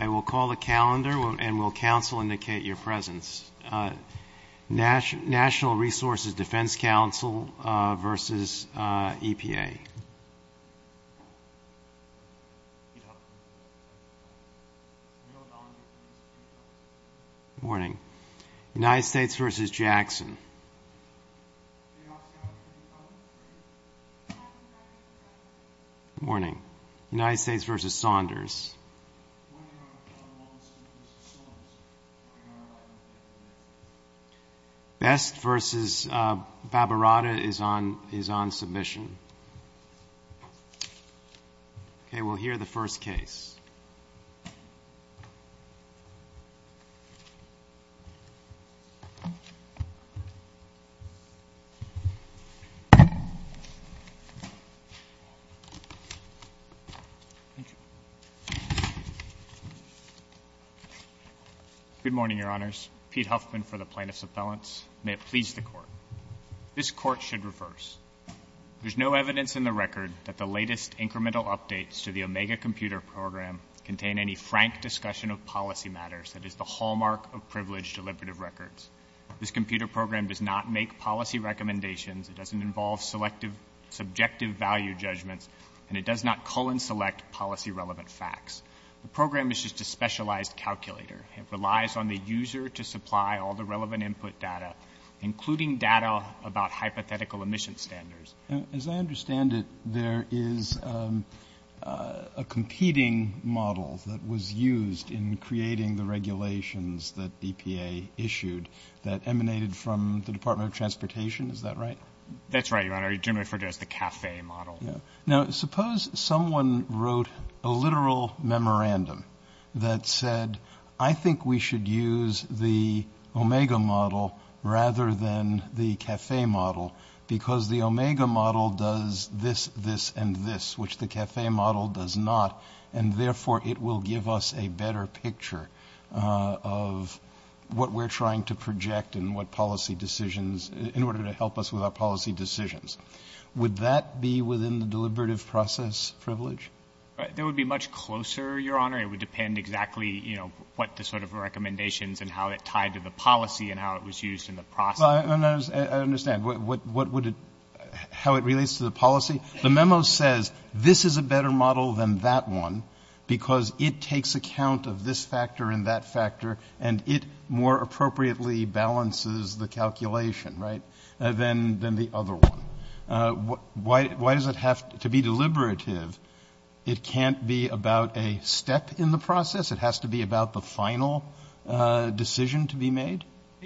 I will call the calendar and will counsel indicate your presence. National Resources Defense Council versus EPA. Good morning. United States versus Jackson. Good morning. United States versus Saunders. Best versus Babarata is on submission. Okay. We'll hear the first case. Thank you. Good morning, Your Honors. Pete Huffman for the Plaintiffs' Appellants. May it please the Court. This Court should reverse. There's no evidence in the record that the latest incremental updates to the Omega Computer Program contain any frank discussion of policy matters that is the hallmark of privileged deliberative records. This computer program does not make policy recommendations, it doesn't involve subjective value judgments, and it does not cull and select policy-relevant facts. The program is just a specialized calculator. It relies on the user to supply all the relevant input data, including data about hypothetical emission standards. As I understand it, there is a competing model that was used in creating the regulations that EPA issued that emanated from the Department of Transportation, is that right? That's right, Your Honor. You generally refer to it as the CAFE model. Now, suppose someone wrote a literal memorandum that said, I think we should use the Omega model rather than the CAFE model, because the Omega model does this, this, and this, which the CAFE model does not, and therefore it will give us a better picture of what we're trying to project and what policy decisions, in order to help us with our policy decisions. Would that be within the deliberative process privilege? That would be much closer, Your Honor. It would depend exactly, you know, what the sort of recommendations and how it tied to the policy and how it was used in the process. I understand. What would it — how it relates to the policy? The memo says, this is a better model than that one, because it takes account of this factor and that factor, and it more appropriately balances the calculation, right, than the other one. Why does it have to be deliberative? It can't be about a step in the process? It has to be about the final decision to be made?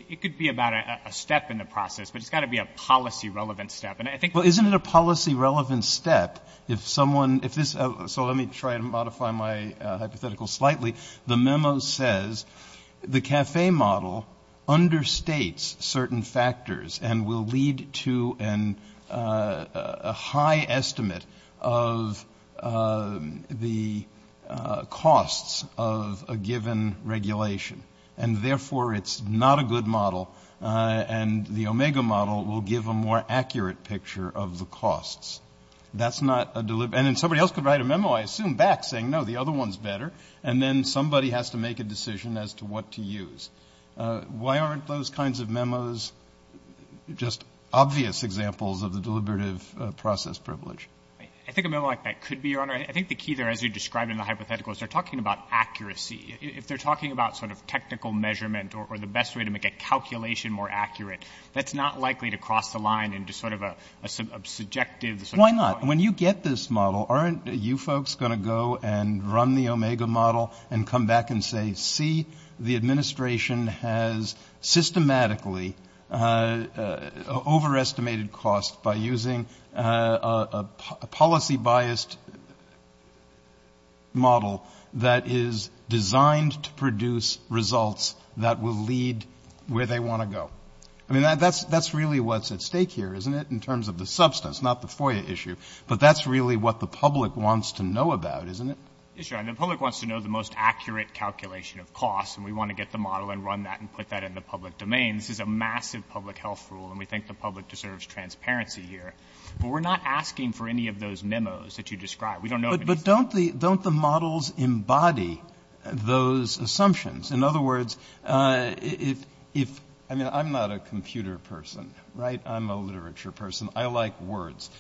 It could be about a step in the process, but it's got to be a policy-relevant step. And I think — Well, isn't it a policy-relevant step if someone — if this — so let me try to modify my hypothetical slightly. The memo says the CAFE model understates certain factors and will lead to a high estimate of the costs of a given regulation. And therefore, it's not a good model, and the OMEGA model will give a more accurate picture of the costs. That's not a — and then somebody else could write a memo, I assume, back saying, no, the other one's better, and then somebody has to make a decision as to what to use. Why aren't those kinds of memos just obvious examples of the deliberative process privilege? I think a memo like that could be, Your Honor. I think the key there, as you described in the hypothetical, is they're talking about accuracy. If they're talking about sort of technical measurement or the best way to make a calculation more accurate, that's not likely to cross the line into sort of a subjective — Why not? When you get this model, aren't you folks going to go and run the OMEGA model and come back and say, see, the administration has systematically overestimated costs by using a policy-biased model that is designed to produce results that will lead where they want to go? I mean, that's really what's at stake here, isn't it, in terms of the substance, not the FOIA issue? But that's really what the public wants to know about, isn't it? Yes, Your Honor. The public wants to know the most accurate calculation of costs, and we want to get the model and run that and put that in the public domain. This is a massive public health rule, and we think the public deserves transparency here. But we're not asking for any of those memos that you described. We don't know if it needs to be — But don't the models embody those assumptions? In other words, if — I mean, I'm not a computer person, right? I'm a literature person. I like words.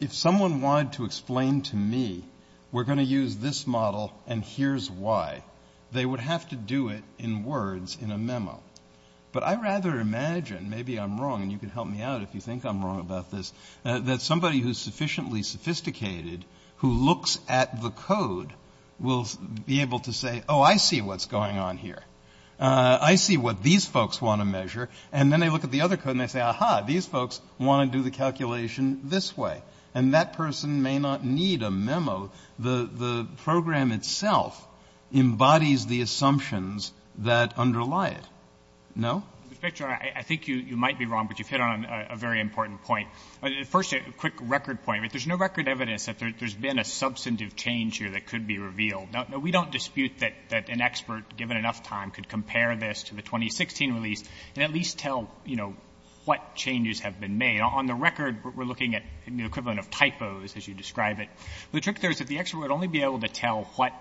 If someone wanted to explain to me, we're going to use this model, and here's why, they would have to do it in words in a memo. But I'd rather imagine — maybe I'm wrong, and you can help me out if you think I'm wrong about this — that somebody who's sufficiently sophisticated, who looks at the code, will be able to say, oh, I see what's going on here. I see what these folks want to measure. And then they look at the other code, and they say, aha, these folks want to do the calculation this way. And that person may not need a memo. The program itself embodies the assumptions that underlie it. No? Well, Inspector General, I think you might be wrong, but you've hit on a very important point. First, a quick record point. There's no record evidence that there's been a substantive change here that could be revealed. We don't dispute that an expert, given enough time, could compare this to the 2016 release and at least tell what changes have been made. On the record, we're looking at the equivalent of typos, as you describe it. The trick there is that the expert would only be able to tell what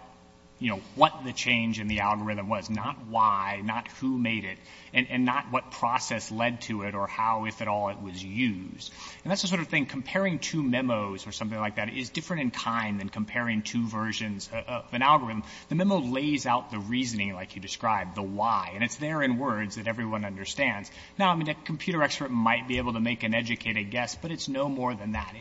the change in the algorithm was, not why, not who made it, and not what process led to it or how, if at all, it was used. And that's the sort of thing, comparing two memos or something like that is different in kind than comparing two versions of an algorithm. The memo lays out the reasoning, like you described, the why. And it's there in words that everyone understands. Now, I mean, a computer expert might be able to make an educated guess, but it's no more than that.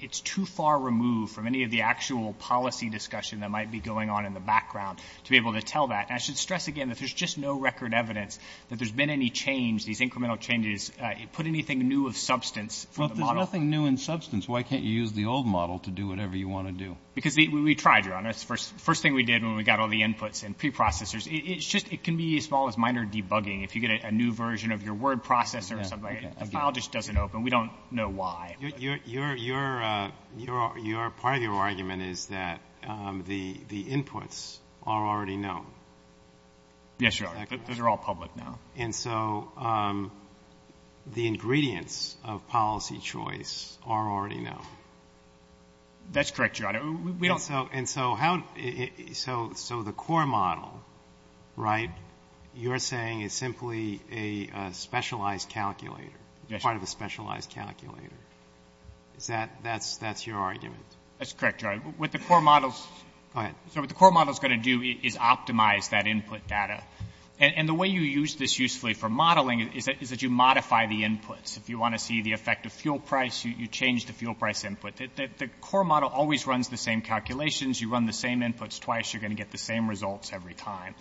It's too far removed from any of the actual policy discussion that might be going on in the background to be able to tell that. And I should stress again that there's just no record evidence that there's been any change, these incremental changes, put anything new of substance from the model. But there's nothing new in substance. Why can't you use the old model to do whatever you want to do? Because we tried, Your Honor. That's the first thing we did when we got all the inputs and preprocessors. It's just, it can be as small as minor debugging. If you get a new version of your word processor or something like that, the file just doesn't open. We don't know why. Your, your, your, your, your, part of your argument is that, um, the, the inputs are already known. Yes, Your Honor. Those are all public now. And so, um, the ingredients of policy choice are already known. That's correct, Your Honor. And so, and so how, so, so the core model, right, you're saying is simply a specialized calculator. Yes, Your Honor. You're saying it's part of a specialized calculator. Is that, that's, that's your argument? That's correct, Your Honor. What the core model's... Go ahead. So what the core model's going to do is optimize that input data. And, and the way you use this usefully for modeling is that, is that you modify the inputs. If you want to see the effect of fuel price, you, you change the fuel price input. The, the, the core model always runs the same calculations. You run the same inputs twice, you're going to get the same results every time.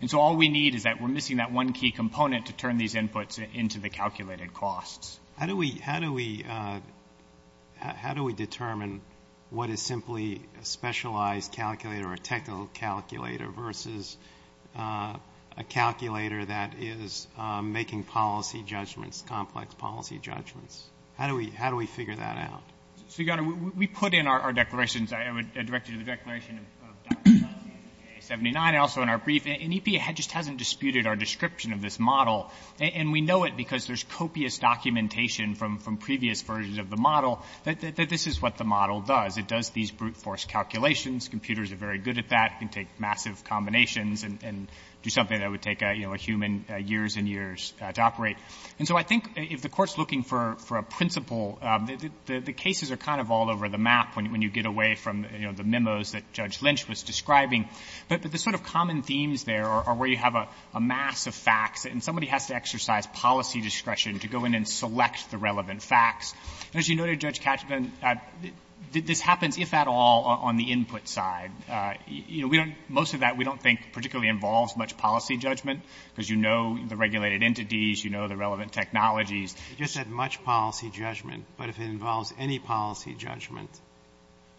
And so all we need is that we're missing that one key component to turn these inputs into the calculated costs. How do we, how do we, uh, how do we determine what is simply a specialized calculator or a technical calculator versus, uh, a calculator that is, uh, making policy judgments, complex policy judgments? How do we, how do we figure that out? So, Your Honor, we, we put in our, our declarations, I would direct you to the Declaration of Diplomacy 79, also in our brief. And EPA just hasn't disputed our description of this model. And we know it because there's copious documentation from, from previous versions of the model that, that, that this is what the model does. It does these brute force calculations. Computers are very good at that. It can take massive combinations and, and do something that would take a, you know, a human, uh, years and years, uh, to operate. And so I think if the court's looking for, for a principle, um, the, the, the cases are kind of all over the map when, when you get away from, you know, the memos that Judge Katzman put out. But, but the sort of common themes there are, are where you have a, a mass of facts and somebody has to exercise policy discretion to go in and select the relevant facts. And as you noted, Judge Katzman, uh, this, this happens, if at all, on the input side. Uh, you know, we don't, most of that we don't think particularly involves much policy judgment because you know the regulated entities, you know the relevant technologies. You just said much policy judgment. But if it involves any policy judgment,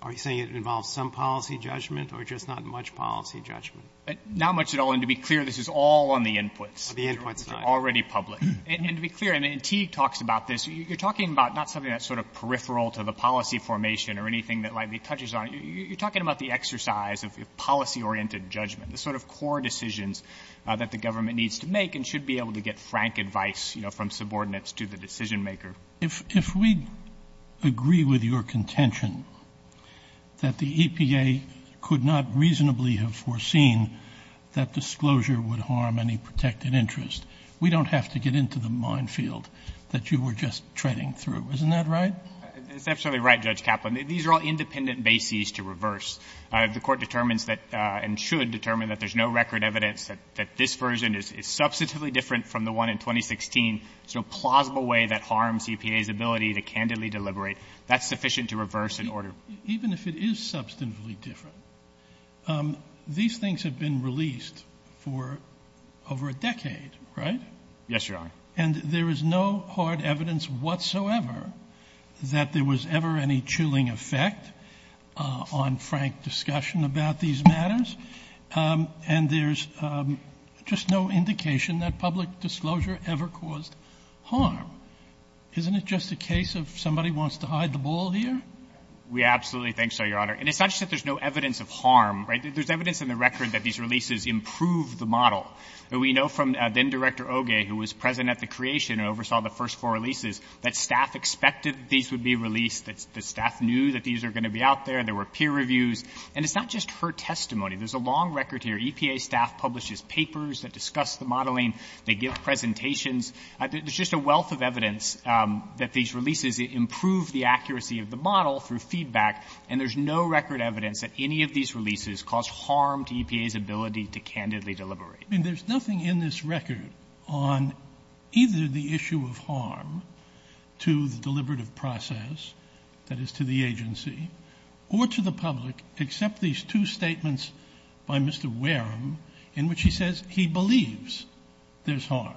are you saying it involves some policy judgment or just not much policy judgment? Now much at all, and to be clear, this is all on the inputs. The inputs side. Already public. And, and to be clear, I mean, Teague talks about this. You, you're talking about not something that's sort of peripheral to the policy formation or anything that lightly touches on it. You, you, you're talking about the exercise of, of policy-oriented judgment. The sort of core decisions, uh, that the government needs to make and should be able to get frank advice, you know, from subordinates to the decision maker. If, if we agree with your contention that the EPA could not reasonably have foreseen that disclosure would harm any protected interest, we don't have to get into the mine field that you were just treading through. Isn't that right? It's absolutely right, Judge Kaplan. These are all independent bases to reverse. The Court determines that, and should determine that there's no record evidence that, that this version is, is substantively different from the one in 2016. So a plausible way that harms EPA's ability to candidly deliberate, that's sufficient to reverse an order. Even if it is substantively different, um, these things have been released for over a decade, right? Yes, Your Honor. And there is no hard evidence whatsoever that there was ever any chilling effect, uh, on frank discussion about these matters. Um, and there's, um, just no indication that public disclosure ever caused harm. Isn't it just a case of somebody wants to hide the ball here? We absolutely think so, Your Honor. And it's not just that there's no evidence of harm, right? There's evidence in the record that these releases improved the model. We know from, uh, then-Director Oge, who was present at the creation and oversaw the first four releases, that staff expected these would be released, that, that staff knew that these are going to be out there, there were peer reviews. And it's not just her testimony. There's a long record here. EPA staff publishes papers that discuss the modeling. They give presentations. There's just a wealth of evidence, um, that these releases improved the accuracy of the model through feedback, and there's no record evidence that any of these releases caused harm to EPA's ability to candidly deliberate. I mean, there's nothing in this record on either the issue of harm to the deliberative process, that is, to the agency, or to the public, except these two statements by Mr. Wareham, in which he says he believes there's harm.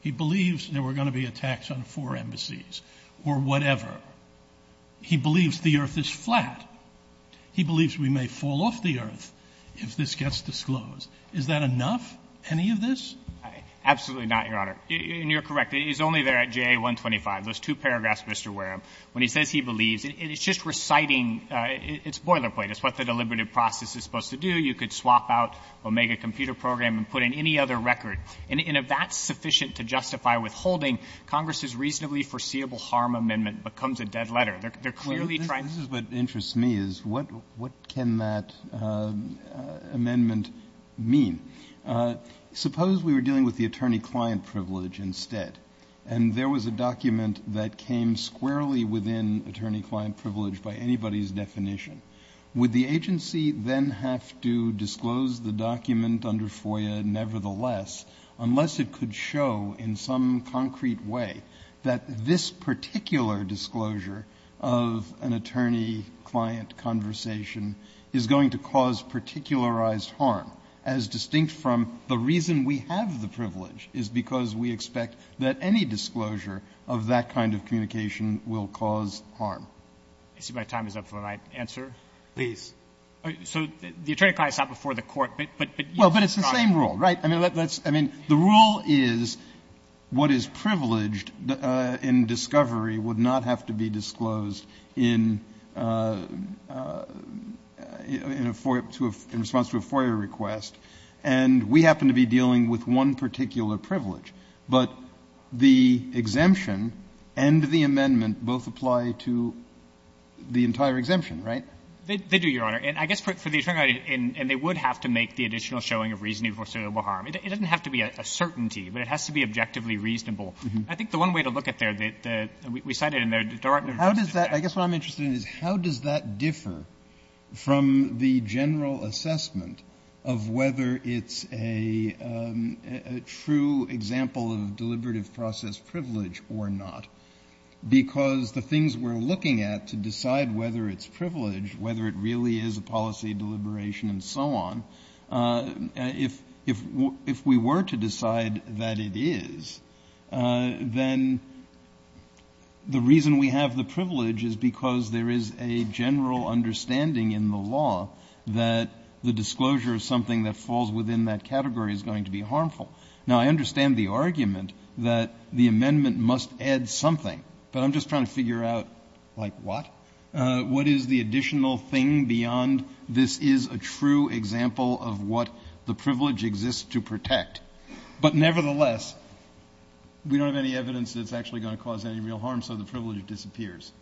He believes there were going to be attacks on four embassies, or whatever. He believes the earth is flat. He believes we may fall off the earth if this gets disclosed. Is that enough, any of this? Absolutely not, Your Honor. And you're correct. It's only there at JA 125, those two paragraphs of Mr. Wareham. When he says he believes, it's just reciting, it's boilerplate. It's what the deliberative process is supposed to do. You could swap out Omega Computer Program and put in any other record. And if that's sufficient to justify withholding, Congress's reasonably foreseeable harm amendment becomes a dead letter. They're clearly trying to do that. This is what interests me, is what can that amendment mean? Suppose we were dealing with the attorney-client privilege instead, and there was a document that came squarely within attorney-client privilege by anybody's definition. Would the agency then have to disclose the document under FOIA, nevertheless, unless it could show in some concrete way that this particular disclosure of an attorney-client conversation is going to cause particularized harm, as distinct from the reason we have the privilege, is because we expect that any disclosure of that kind of communication will cause harm. I see my time is up for my answer. Please. So, the attorney-client is not before the court, but- Well, but it's the same rule, right? I mean, the rule is what is privileged in discovery would not have to be disclosed in response to a FOIA request. And we happen to be dealing with one particular privilege. But the exemption and the amendment both apply to the entire exemption, right? They do, Your Honor. And I guess for the attorney-client, and they would have to make the additional showing of reasonable harm. It doesn't have to be a certainty, but it has to be objectively reasonable. I think the one way to look at there, we cited in there, the Department of Justice did that. I guess what I'm interested in is how does that differ from the general assessment of whether it's a true example of deliberative process privilege or not. Because the things we're looking at to decide whether it's privileged, whether it really is a policy deliberation and so on, if we were to decide that it is, then the reason we have the privilege is because there is a general understanding in the law that the disclosure of something that falls within that category is going to be harmful. Now, I understand the argument that the amendment must add something, but I'm just trying to figure out, like, what? What is the additional thing beyond this is a true example of what the privilege exists to protect? But nevertheless, we don't have any evidence that it's actually going to cause any real harm, so the privilege disappears.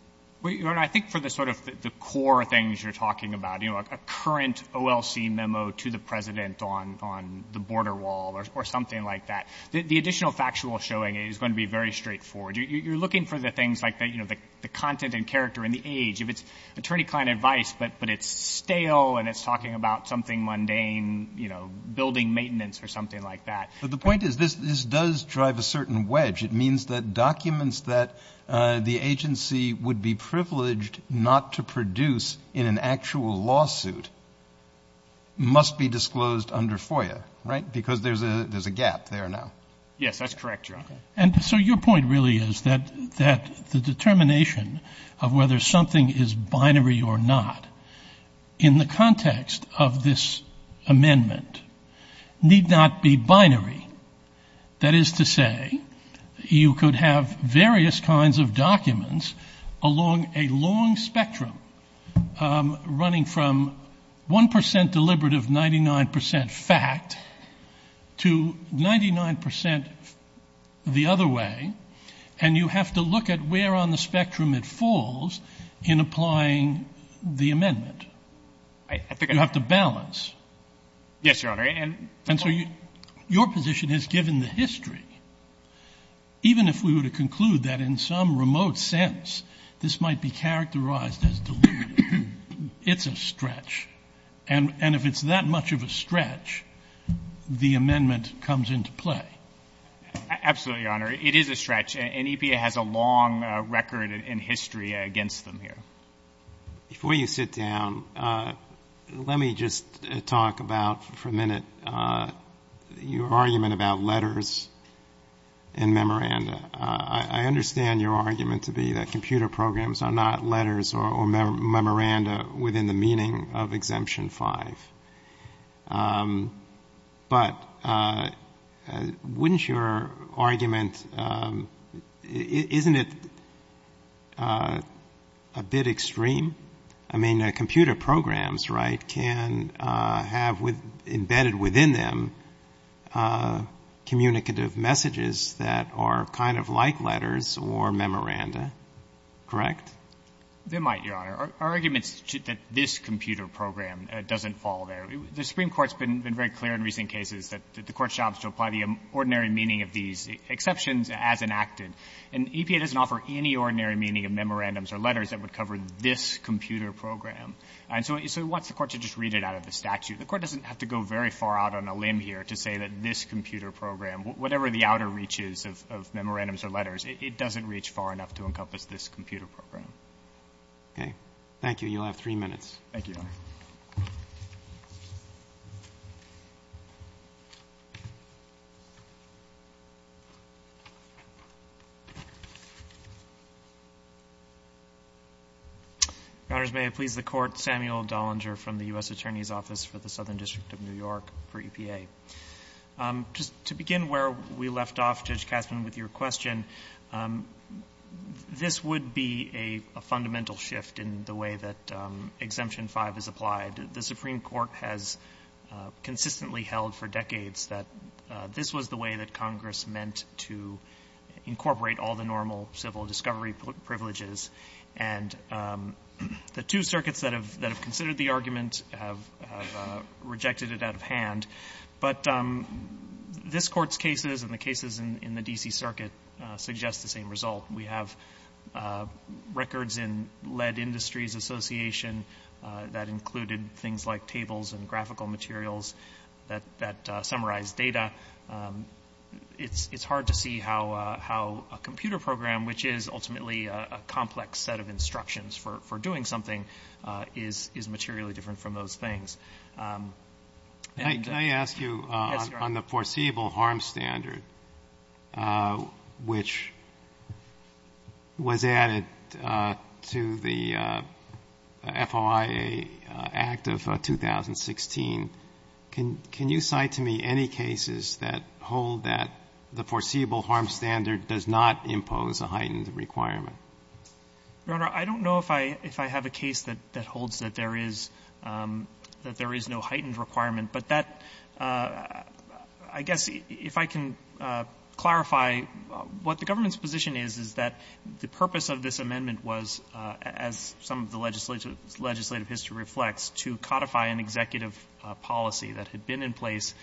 Well, Your Honor, I think for the sort of the core things you're talking about, you know, a current OLC memo to the president on the border wall or something like that, the additional factual showing is going to be very straightforward. You're looking for the things like the content and character and the age. If it's attorney-client advice, but it's stale and it's talking about something mundane, you know, building maintenance or something like that. But the point is this does drive a certain wedge. It means that documents that the agency would be privileged not to produce in an actual lawsuit must be disclosed under FOIA, right? Because there's a gap there now. Yes, that's correct, Your Honor. And so your point really is that the determination of whether something is binary or not in the context of this amendment need not be binary. That is to say you could have various kinds of documents along a long spectrum running from 1% deliberative, 99% fact to 99% the other way. And you have to look at where on the spectrum it falls in applying the amendment. I think you have to balance. Yes, Your Honor. And so your position has given the history, even if we were to conclude that in some remote sense, this might be characterized as deliberate, it's a stretch. And if it's that much of a stretch, the amendment comes into play. Absolutely, Your Honor. It is a stretch and EPA has a long record in history against them here. Before you sit down, let me just talk about for a minute, your argument about letters and memoranda, I understand your argument to be that computer programs are not letters or memoranda within the meaning of exemption five, but wouldn't your argument, isn't it a bit extreme? I mean, a computer programs, right, can have with embedded within them communicative messages that are kind of like letters or memoranda, correct? They might, Your Honor. Our argument is that this computer program doesn't fall there. The Supreme Court's been very clear in recent cases that the court's job is to apply the ordinary meaning of these exceptions as enacted. And EPA doesn't offer any ordinary meaning of memorandums or letters that would cover this computer program. And so we want the court to just read it out of the statute. The court doesn't have to go very far out on a limb here to say that this computer program, whatever the outer reaches of memorandums or letters, it doesn't reach far enough to encompass this computer program. Thank you. You'll have three minutes. Thank you, Your Honor. Your Honor, may it please the court, Samuel Dollinger from the U.S. Attorney's Office for the Southern District of New York for EPA. Just to begin where we left off, Judge Kasman, with your question, this would be a fundamental shift in the way that exemption five is applied. The Supreme Court has consistently held for decades that this was the way that Congress meant to incorporate all the normal civil discovery privileges. And the two circuits that have considered the argument have rejected it out of hand. But this Court's cases and the cases in the D.C. Circuit suggest the same result. We have records in Lead Industries Association that included things like tables and graphical materials that summarize data. It's hard to see how a computer program, which is ultimately a complex set of instructions for doing something, is materially different from those things. Can I ask you on the foreseeable harm standard, which was added to the FOIA Act of 2016, can you cite to me any cases that hold that the foreseeable harm standard does not impose a heightened requirement? Your Honor, I don't know if I have a case that holds that there is, that there is a no heightened requirement, but that, I guess, if I can clarify, what the government's position is, is that the purpose of this amendment was, as some of the legislative history reflects, to codify an executive policy that had been in place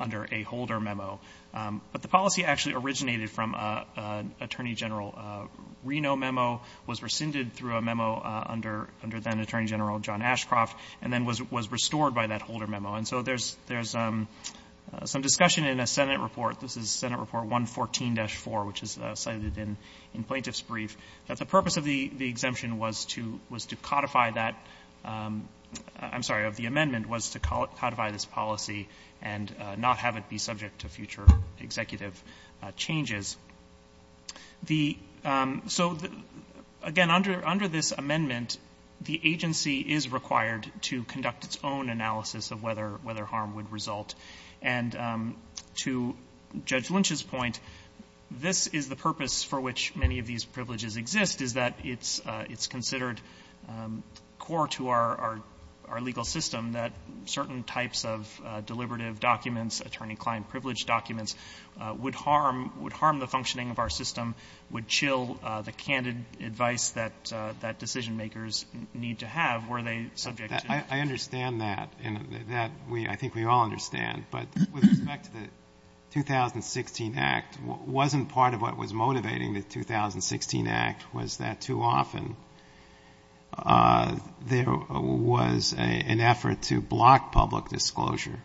under a Holder memo, but the policy actually originated from an Attorney General Reno memo, was rescinded through a memo under then Attorney General John Ashcroft, and then was restored by that Holder memo. And so there's some discussion in a Senate report, this is Senate Report 114-4, which is cited in Plaintiff's Brief, that the purpose of the exemption was to codify that, I'm sorry, of the amendment, was to codify this policy and not have it be subject to future executive changes. The, so, again, under this amendment, the agency is required to conduct its own analysis of whether harm would result, and to Judge Lynch's point, this is the purpose for which many of these privileges exist, is that it's considered core to our legal system that certain types of deliberative documents, attorney-client-privileged documents, would harm, would harm the functioning of our system, would chill the candid advice that decision-makers need to have, were they subject to. I understand that, and that, I think we all understand, but with respect to the 2016 Act, wasn't part of what was motivating the 2016 Act, was that too often there was an effort to block public disclosure?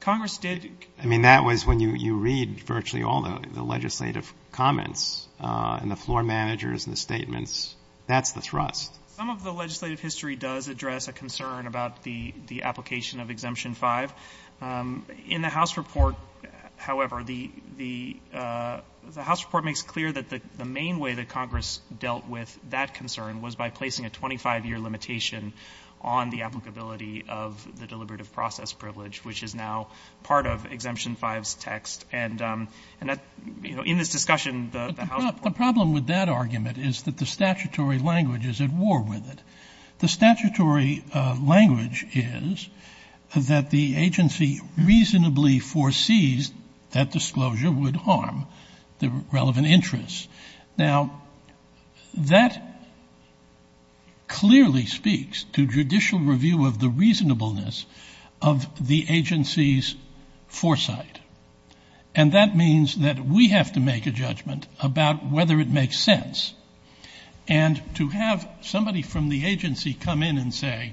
Congress did. I mean, that was when you read virtually all the legislative comments and the floor managers and the statements. That's the thrust. Some of the legislative history does address a concern about the application of Exemption 5. In the House report, however, the House report makes clear that the main way that the House is going to deal with this is through the accountability of the deliberative process privilege, which is now part of Exemption 5's text, and that, you know, in this discussion, the House report doesn't do that. The problem with that argument is that the statutory language is at war with it. The statutory language is that the agency reasonably foresees that disclosure would harm the relevant interests. Now, that clearly speaks to judicial review of the reasonableness of the agency's foresight. And that means that we have to make a judgment about whether it makes sense. And to have somebody from the agency come in and say,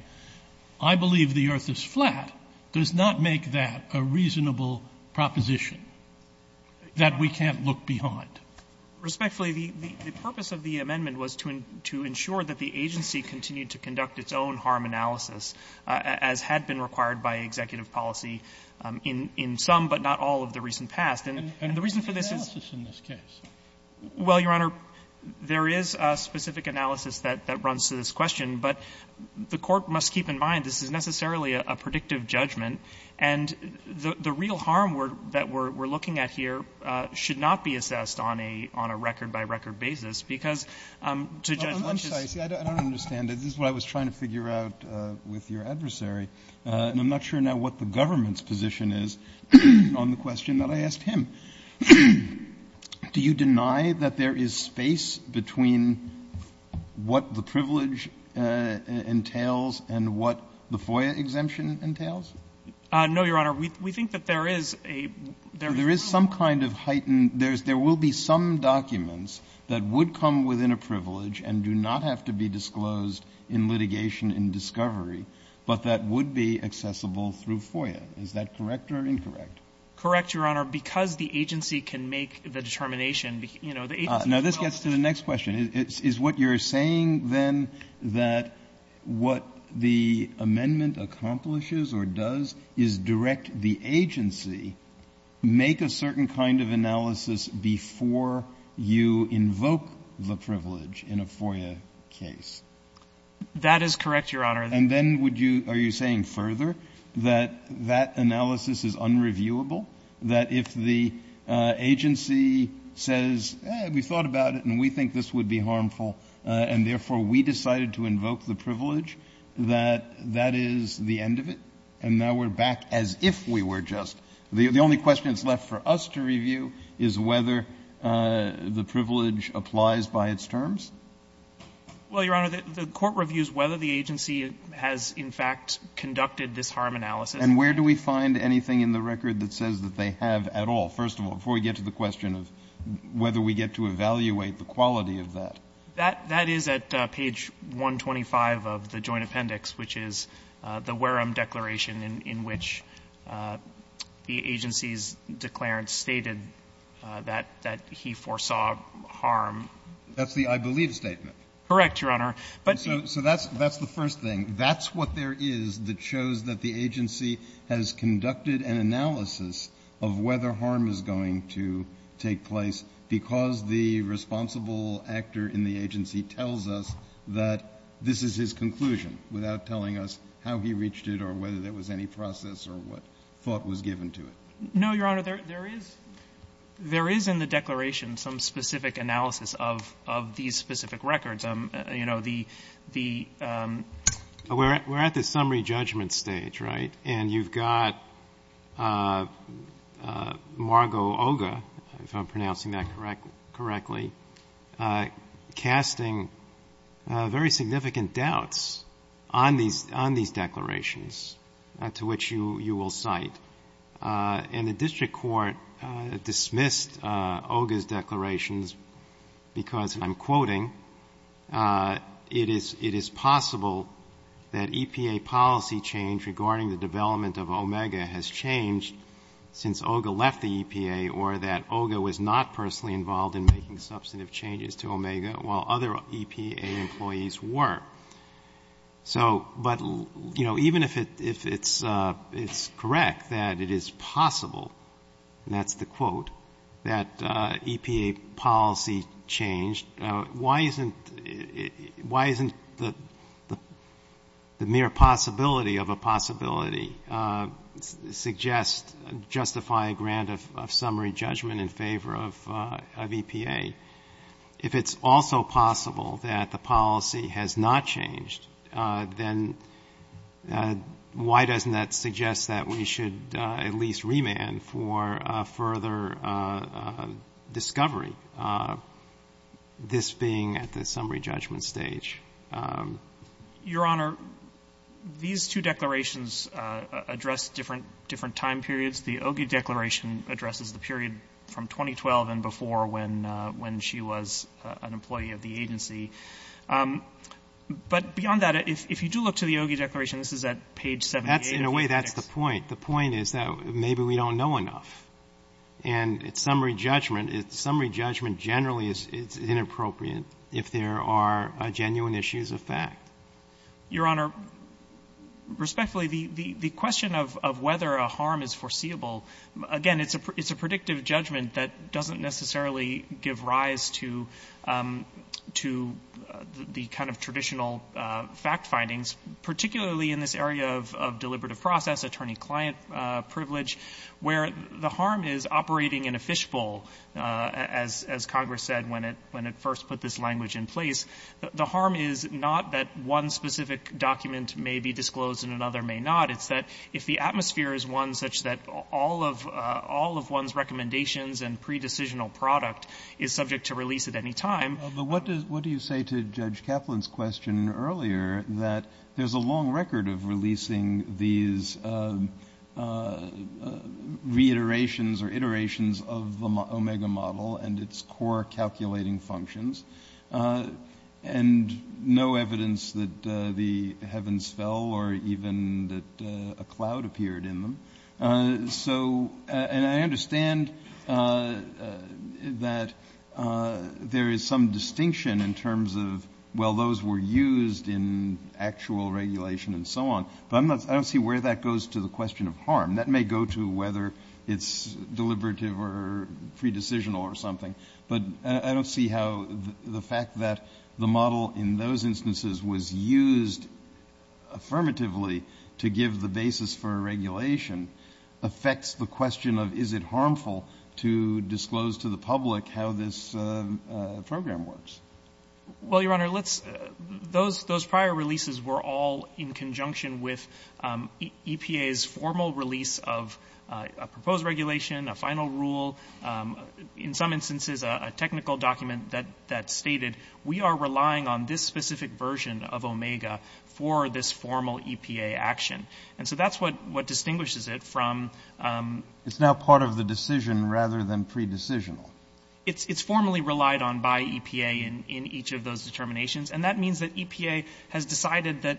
I believe the earth is flat, does not make that a reasonable proposition that we can't look behind. Respectfully, the purpose of the amendment was to ensure that the agency continued to conduct its own harm analysis, as had been required by executive policy in some, but not all, of the recent past. And the reason for this is the reason for this is Well, Your Honor, there is a specific analysis that runs to this question, but the Court must keep in mind this is necessarily a predictive judgment. And the real harm that we're looking at here should not be assessed on a record-by-record basis, because to judge Lynch's This is what I was trying to figure out with your adversary, and I'm not sure now what the government's position is on the question that I asked him. Do you deny that there is space between what the privilege entails and what the FOIA exemption entails? No, Your Honor. We think that there is a There is some kind of heightened There will be some documents that would come within a privilege and do not have to be disclosed in litigation in discovery, but that would be accessible through FOIA. Is that correct or incorrect? Correct, Your Honor, because the agency can make the determination Now this gets to the next question. Is what you're saying, then, that what the amendment accomplishes or does is direct the agency to make a certain kind of analysis before you invoke the privilege in a FOIA case? That is correct, Your Honor. And then would you – are you saying further that that analysis is unreviewable, that if the agency says, we thought about it and we think this would be harmful and therefore we decided to invoke the privilege, that that is the end of it and now we're back as if we were just – the only question that's left for us to review is whether the privilege applies by its terms? Well, Your Honor, the court reviews whether the agency has in fact conducted this harm analysis. And where do we find anything in the record that says that they have at all, first of all, before we get to the question of whether we get to evaluate the quality of that? That is at page 125 of the Joint Appendix, which is the Wareham Declaration in which the agency's declarant stated that he foresaw harm. That's the I believe statement? Correct, Your Honor. So that's the first thing. That's what there is that shows that the agency has conducted an analysis of whether harm is going to take place because the responsible actor in the agency tells us that this is his conclusion without telling us how he reached it or whether there was any process or what thought was given to it? No, Your Honor. There is in the declaration some specific analysis of these specific records. We're at the summary judgment stage, right? And you've got Margo Oga, if I'm pronouncing that correctly, casting very significant doubts on these declarations to which you will cite. And the district court dismissed Oga's declarations because, and I'm quoting, it is possible that EPA policy change regarding the development of Omega has changed since Oga left the EPA or that Oga was not personally involved in making substantive changes to Omega while other EPA employees were. But even if it's correct that it is possible, and that's the quote, that EPA policy changed, why isn't the mere possibility of a possibility suggest justify a grant of summary judgment in favor of EPA? If it's also possible that the policy has not changed, then why doesn't that suggest that we should at least remand for further discovery? This being at the summary judgment stage. Your Honor, these two declarations address different time periods. The Oga declaration addresses the period from 2012 and before when she was an employee of the agency. But beyond that, if you do look to the Oga declaration, this is at page 78. In a way, that's the point. The point is that maybe we don't know enough. And summary judgment generally is inappropriate if there are genuine issues of fact. Your Honor, respectfully, the question of whether a harm is foreseeable, again, it's a predictive judgment that doesn't necessarily give rise to the kind of traditional fact findings, particularly in this area of deliberative process, attorney-client privilege, where the harm is operating in a fishbowl, as Congress said when it first put this language in place. The harm is not that one specific document may be disclosed and another may not. It's that if the atmosphere is one such that all of one's recommendations and pre-decisional product is subject to release at any time. Well, but what do you say to Judge Kaplan's question earlier that there's a long record of releasing these reiterations or iterations of the Omega model and its core calculating functions, and no evidence that the heavens fell or even that a cloud appeared in them? So, and I understand that there is some debate about whether or not the Omega model has a distinction in terms of, well, those were used in actual regulation and so on. But I don't see where that goes to the question of harm. That may go to whether it's deliberative or pre-decisional or something. But I don't see how the fact that the model in those instances was used affirmatively to give the basis for regulation affects the question of is it harmful to disclose to the public how this program works. Well, Your Honor, let's, those prior releases were all in conjunction with EPA's formal release of a proposed regulation, a final rule, in some instances a technical document that stated we are relying on this specific version of Omega for this formal EPA action. And so that's what distinguishes it from... It's now part of the decision rather than pre-decisional. It's formally relied on by EPA in each of those determinations. And that means that EPA has decided that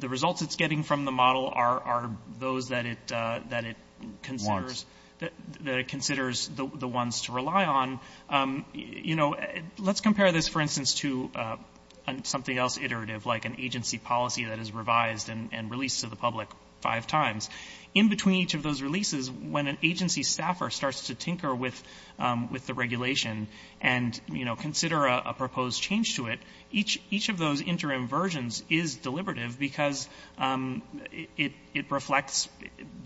the results it's getting from the model are those that it considers the ones to rely on. You know, let's compare this, for instance, to something else iterative, like an agency policy that is revised and released to the public five times. In between each of those releases, when an agency staffer starts to tinker with the regulation and consider a proposed change to it, each of those interim versions is deliberative because it reflects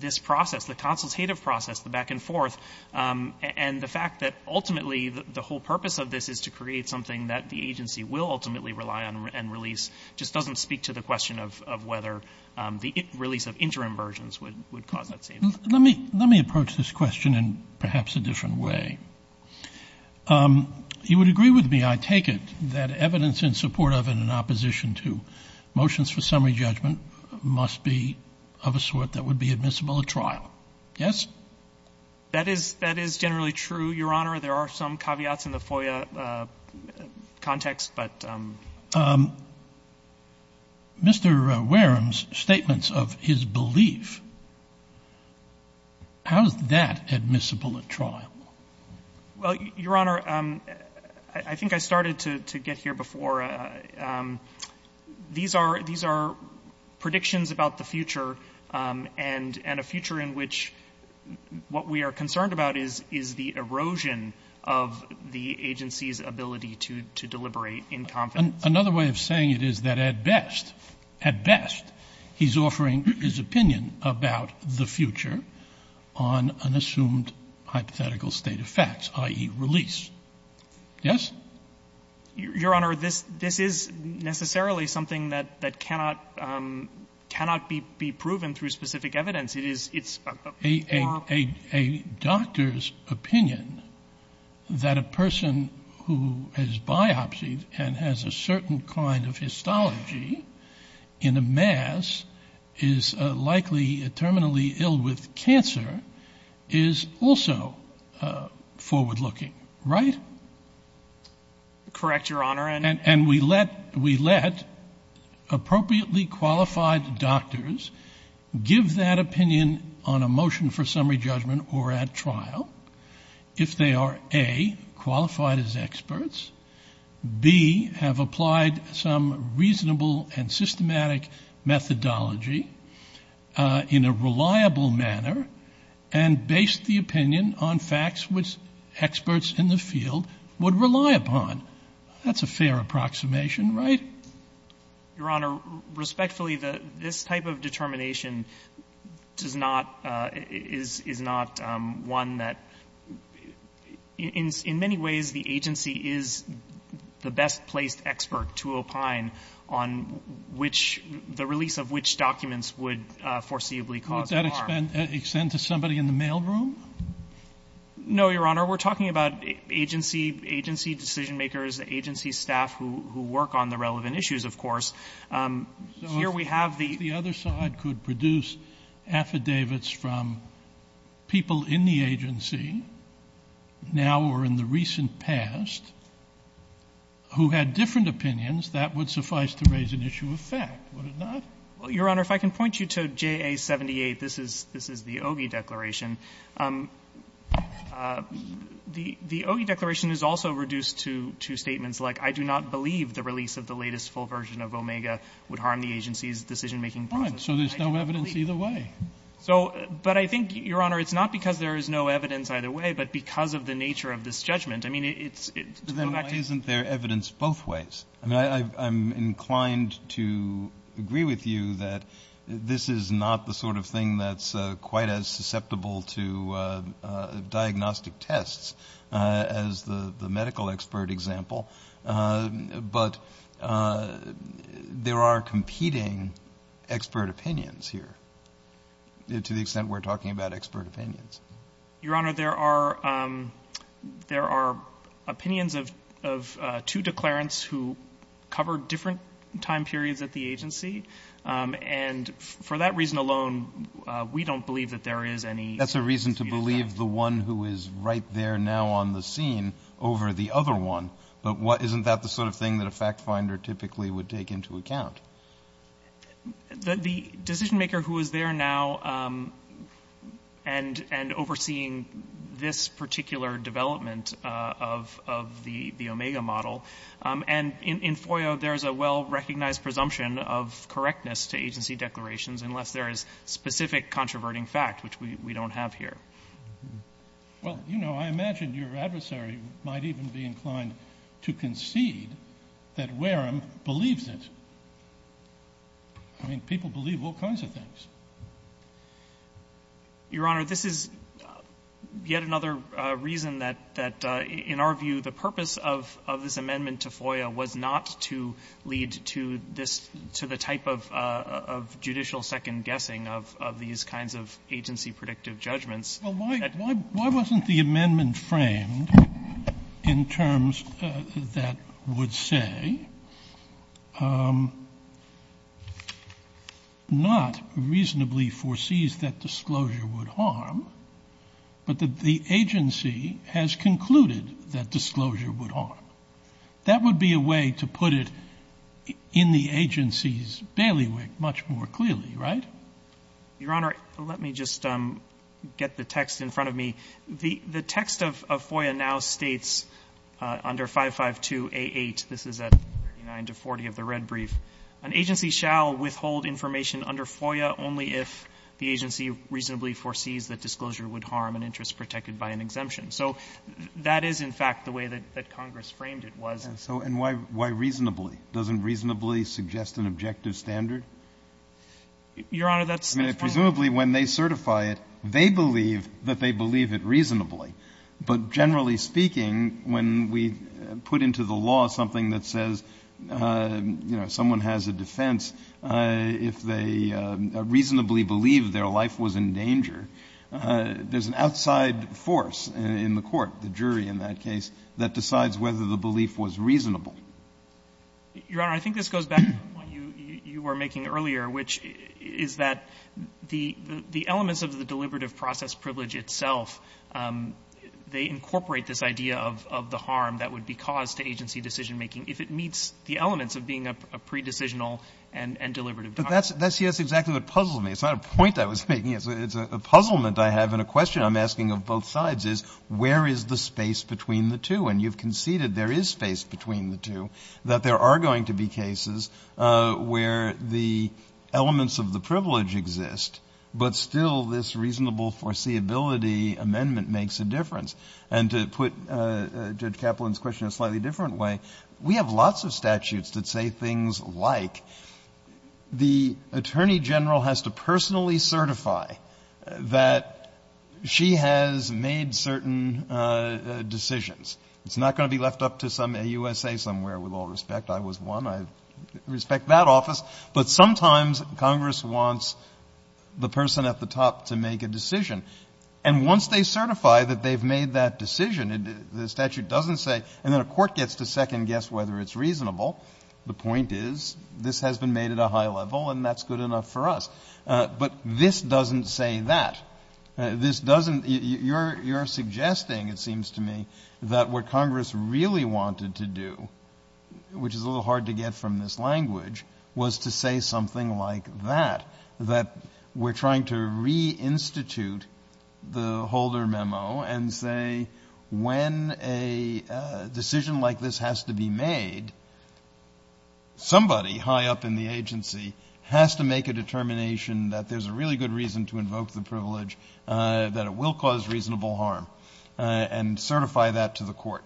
this process, the consultative process, the back and forth, and the fact that ultimately the whole purpose of this is to create something that the agency will ultimately rely on and release just doesn't speak to the question of whether the release of interim versions would cause that change. Let me approach this question in perhaps a different way. You would agree with me, I take it, that evidence in support of and in opposition to motions for summary judgment must be of a sort that would be admissible at trial. Yes? That is generally true, Your Honor. There are some caveats in the FOIA context, but... Mr. Wareham's statements of his belief, how is that admissible at trial? Well, Your Honor, I think I started to get here before. These are predictions about the future, and a future in which what we are concerned about is the erosion of the agency's ability to deliberate in confidence. Another way of saying it is that at best, at best, he's offering his opinion about the future on an assumed hypothetical state of facts, i.e., release. Yes? Your Honor, this is necessarily something that cannot be proven through specific evidence. It's... A doctor's opinion that a person who has biopsied and has a certain kind of histology in a mass is likely terminally ill with cancer is also forward-looking, right? Correct, Your Honor. And we let appropriately qualified doctors give that opinion on a motion for summary judgment or at trial if they are, A, qualified as experts, B, have applied some reasonable and systematic methodology in a reliable manner and based the opinion on facts which experts in the field would rely upon. That's a fair approximation, right? Your Honor, respectfully, this type of determination is not one that... In many ways, the agency is the best-placed expert to opine on the release of which documents would foreseeably cause harm. Would that extend to somebody in the mailroom? No, Your Honor. We're talking about agency decision-makers, agency staff who work on the relevant issues, of course. Here we have the... So if the other side could produce affidavits from people in the agency now or in the recent past who had different opinions, that would suffice to raise an issue of fact, would it not? Well, Your Honor, if I can point you to JA-78, this is the Ogi Declaration. The Ogi Declaration is also reduced to statements like, I do not believe the release of the latest full version of Omega would harm the agency's decision-making process. Fine. So there's no evidence either way. So, but I think, Your Honor, it's not because there is no evidence either way, but because of the nature of this judgment. I mean, it's... Why isn't there evidence both ways? I mean, I'm inclined to agree with you that this is not the sort of thing that's quite as susceptible to diagnostic tests as the medical expert example, but there are competing expert opinions here to the extent we're talking about expert opinions. Your Honor, there are opinions of two declarants who covered different time periods at the agency, and for that reason alone, we don't believe that there is any... That's a reason to believe the one who is right there now on the scene over the other one, but isn't that the sort of thing that a fact-finder typically would take into account? The decision-maker who is there now and overseeing this particular development of the Omega model, and in FOIA, there's a well-recognized presumption of correctness to agency declarations unless there is specific controverting fact, which we don't have here. Well, you know, I imagine your adversary might even be inclined to concede that because, I mean, people believe all kinds of things. Your Honor, this is yet another reason that, in our view, the purpose of this amendment to FOIA was not to lead to this, to the type of judicial second-guessing of these kinds of agency-predictive judgments. Well, why wasn't the amendment framed in terms that would say that the agency not reasonably foresees that disclosure would harm, but that the agency has concluded that disclosure would harm? That would be a way to put it in the agency's bailiwick much more clearly, right? Your Honor, let me just get the text in front of me. The text of FOIA now states under 552A8, this is at 39 to 40 of the red brief, an agency shall withhold information under FOIA only if the agency reasonably foresees that disclosure would harm an interest protected by an exemption. So that is, in fact, the way that Congress framed it was. And so why reasonably? Doesn't reasonably suggest an objective standard? Your Honor, that's the point. I mean, presumably when they certify it, they believe that they believe it reasonably. But generally speaking, when we put into the law something that says, you know, someone has a defense, if they reasonably believe their life was in danger, there's an outside force in the court, the jury in that case, that decides whether the belief was reasonable. Your Honor, I think this goes back to what you were making earlier, which is that the elements of the deliberative process privilege itself, they incorporate this idea of the harm that would be caused to agency decisionmaking if it meets the elements of being a pre-decisional and deliberative document. But that's, yes, exactly what puzzled me. It's not a point I was making. It's a puzzlement I have and a question I'm asking of both sides is where is the space between the two? And you've conceded there is space between the two, that there are going to be cases where the elements of the privilege exist, but still this reasonable foreseeability amendment makes a difference. And to put Judge Kaplan's question in a slightly different way, we have lots of statutes that say things like the Attorney General has to personally certify that she has made certain decisions. It's not going to be left up to some AUSA somewhere, with all respect. I was one. I respect that office. But sometimes Congress wants the person at the top to make a decision. And once they certify that they've made that decision, the statute doesn't say, and then a court gets to second-guess whether it's reasonable. The point is this has been made at a high level and that's good enough for us. But this doesn't say that. This doesn't — you're suggesting, it seems to me, that what Congress really wanted to do, which is a little hard to get from this language, was to say something like that, that we're trying to reinstitute the Holder memo and say when a decision like this has to be made, somebody high up in the agency has to make a determination that there's a really good reason to invoke the privilege, that it will cause reasonable harm, and certify that to the court.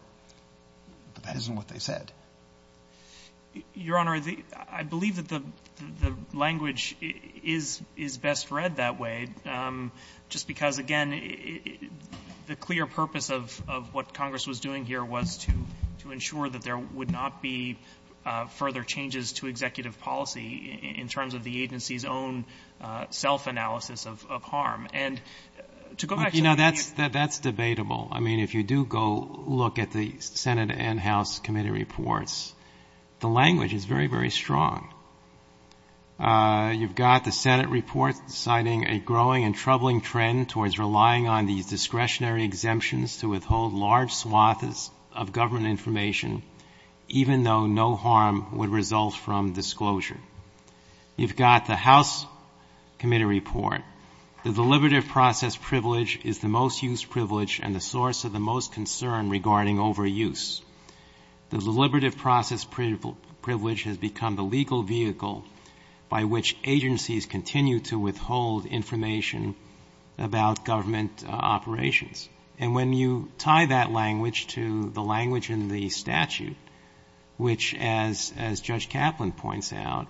But that isn't what they said. Your Honor, I believe that the language is best read that way just because, again, the clear purpose of what Congress was doing here was to ensure that there would not be further changes to executive policy in terms of the agency's own self-analysis of harm. And to go back to the — But, you know, that's debatable. I mean, if you do go look at the Senate and House committee reports, the language is very, very strong. You've got the Senate report citing a growing and troubling trend towards relying on these discretionary exemptions to withhold large swathes of government information, even though no harm would result from disclosure. You've got the House committee report. The deliberative process privilege is the most used privilege and the source of the most concern regarding overuse. The deliberative process privilege has become the legal vehicle by which agencies continue to withhold information about government operations. And when you tie that language to the language in the statute, which, as Judge Kaplan points out,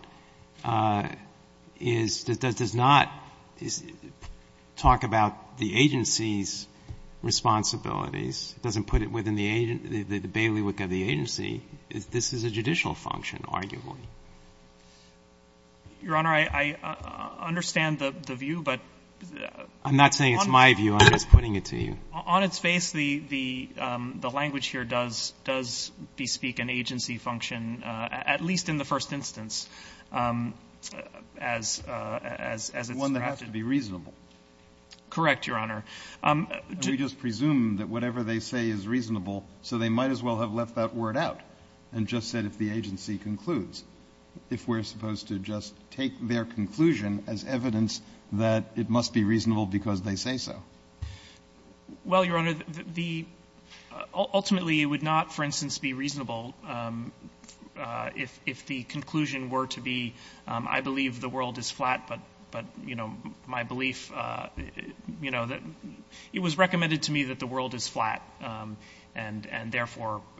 is — does not talk about the agency's responsibilities, doesn't put it within the bailiwick of the agency, this is a judicial function, arguably. Your Honor, I understand the view, but — I'm not saying it's my view. I'm just putting it to you. On its face, the language here does bespeak an agency function, at least in the first instance, as it's drafted. One that has to be reasonable. Correct, Your Honor. We just presume that whatever they say is reasonable, so they might as well have left that word out and just said if the agency concludes, if we're supposed to just take their conclusion as evidence that it must be reasonable because they say so. Well, Your Honor, the — ultimately, it would not, for instance, be reasonable if the conclusion were to be, I believe the world is flat, but, you know, my belief — you know, it was recommended to me that the world is flat, and therefore —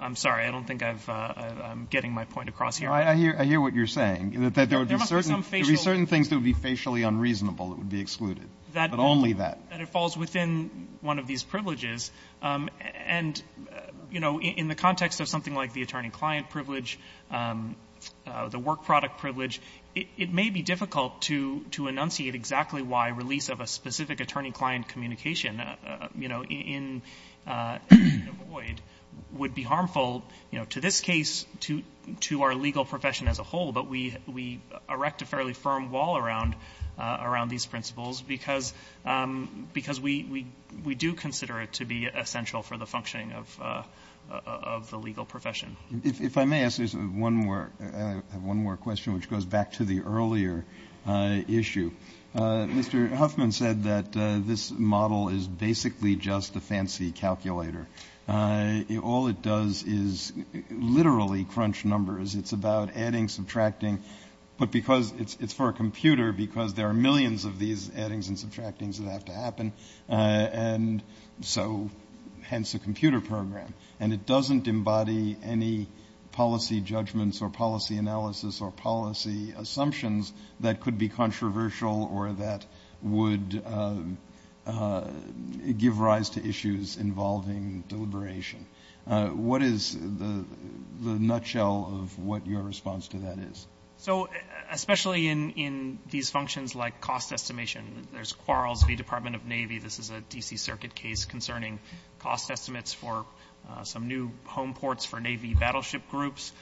I'm sorry, I don't think I'm getting my point across here. I hear what you're saying. That there would be certain — There must be some facial — There would be certain things that would be facially unreasonable that would be excluded, but only that. That it falls within one of these privileges. And, you know, in the context of something like the attorney-client privilege, the work-product privilege, it may be difficult to enunciate exactly why release of a specific attorney-client communication, you know, in a void would be harmful, you know, to this case, to our legal profession as a whole, but we erect a fairly — because we do consider it to be essential for the functioning of the legal profession. If I may ask one more question, which goes back to the earlier issue, Mr. Huffman said that this model is basically just a fancy calculator. All it does is literally crunch numbers. It's about adding, subtracting, but because it's for a computer, because there are millions of these addings and subtractings that have to happen, and so hence a computer program. And it doesn't embody any policy judgments or policy analysis or policy assumptions that could be controversial or that would give rise to issues involving deliberation. What is the nutshell of what your response to that is? So especially in these functions like cost estimation, there's quarrels with the Department of Navy. This is a D.C. Circuit case concerning cost estimates for some new home ports for Navy battleship groups.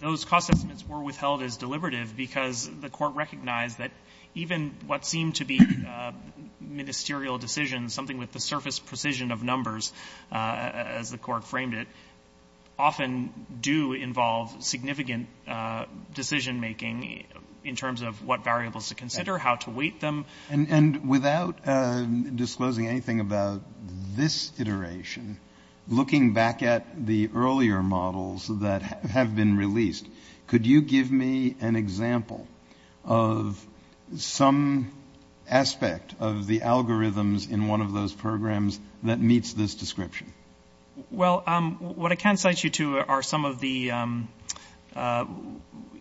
Those cost estimates were withheld as deliberative because the court recognized that even what seemed to be ministerial decisions, something with the surface precision of numbers, as the court framed it, often do involve significant decision making in terms of what variables to consider, how to weight them. And without disclosing anything about this iteration, looking back at the earlier models that have been released, could you give me an example of some aspect of the algorithms in one of those programs that meets this description? Well, what I can cite you to are some of the,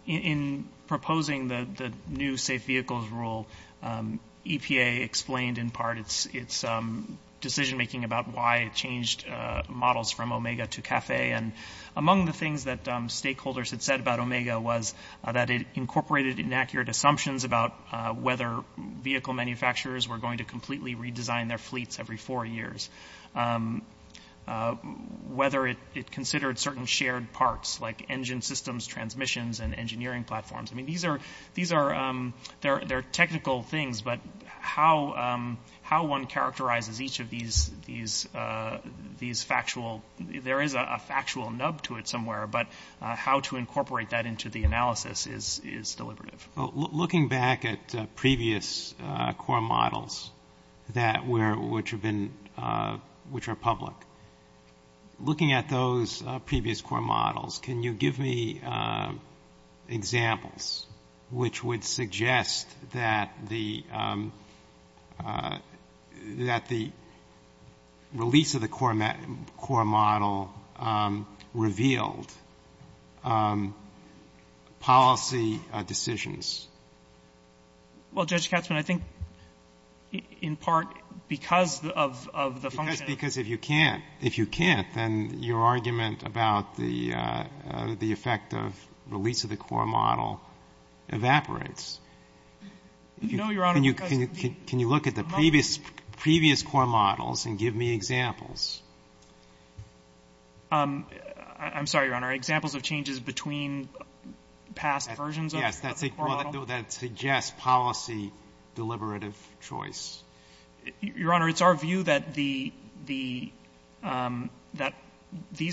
in proposing the new safe vehicles rule, EPA explained in part its decision making about why it changed models from Omega to CAFE. And among the things that stakeholders had said about Omega was that it incorporated inaccurate assumptions about whether vehicle manufacturers were going to completely redesign their fleets every four years, whether it considered certain shared parts like engine systems, transmissions, and engineering platforms. I mean, these are technical things, but how one characterizes each of these factual, there is a factual nub to it somewhere, but how to incorporate that into the analysis is deliberative. Looking back at previous core models that were, which have been, which are public, looking at those previous core models, can you give me examples which would suggest that the, that the release of the core model revealed policy decisions? Well, Judge Katzmann, I think in part because of the function of the core model. Because if you can't, if you can't, then your argument about the effect of release of the core model evaporates. Can you look at the previous core models and give me examples? I'm sorry, Your Honor, examples of changes between past versions of the core model? Yes, that suggests policy deliberative choice. Your Honor, it's our view that these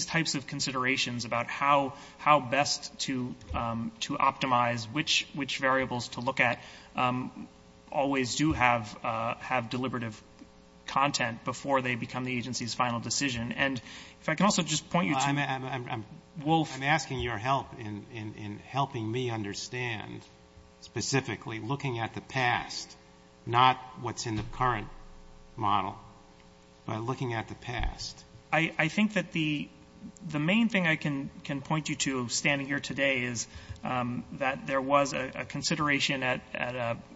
types of considerations about how best to optimize, which variables to look at, always do have deliberative content before they become the agency's final decision. And if I can also just point you to Wolf. I'm asking your help in helping me understand, specifically looking at the past, not what's in the current model, but looking at the past. I think that the main thing I can point you to, standing here today, is that there was a consideration at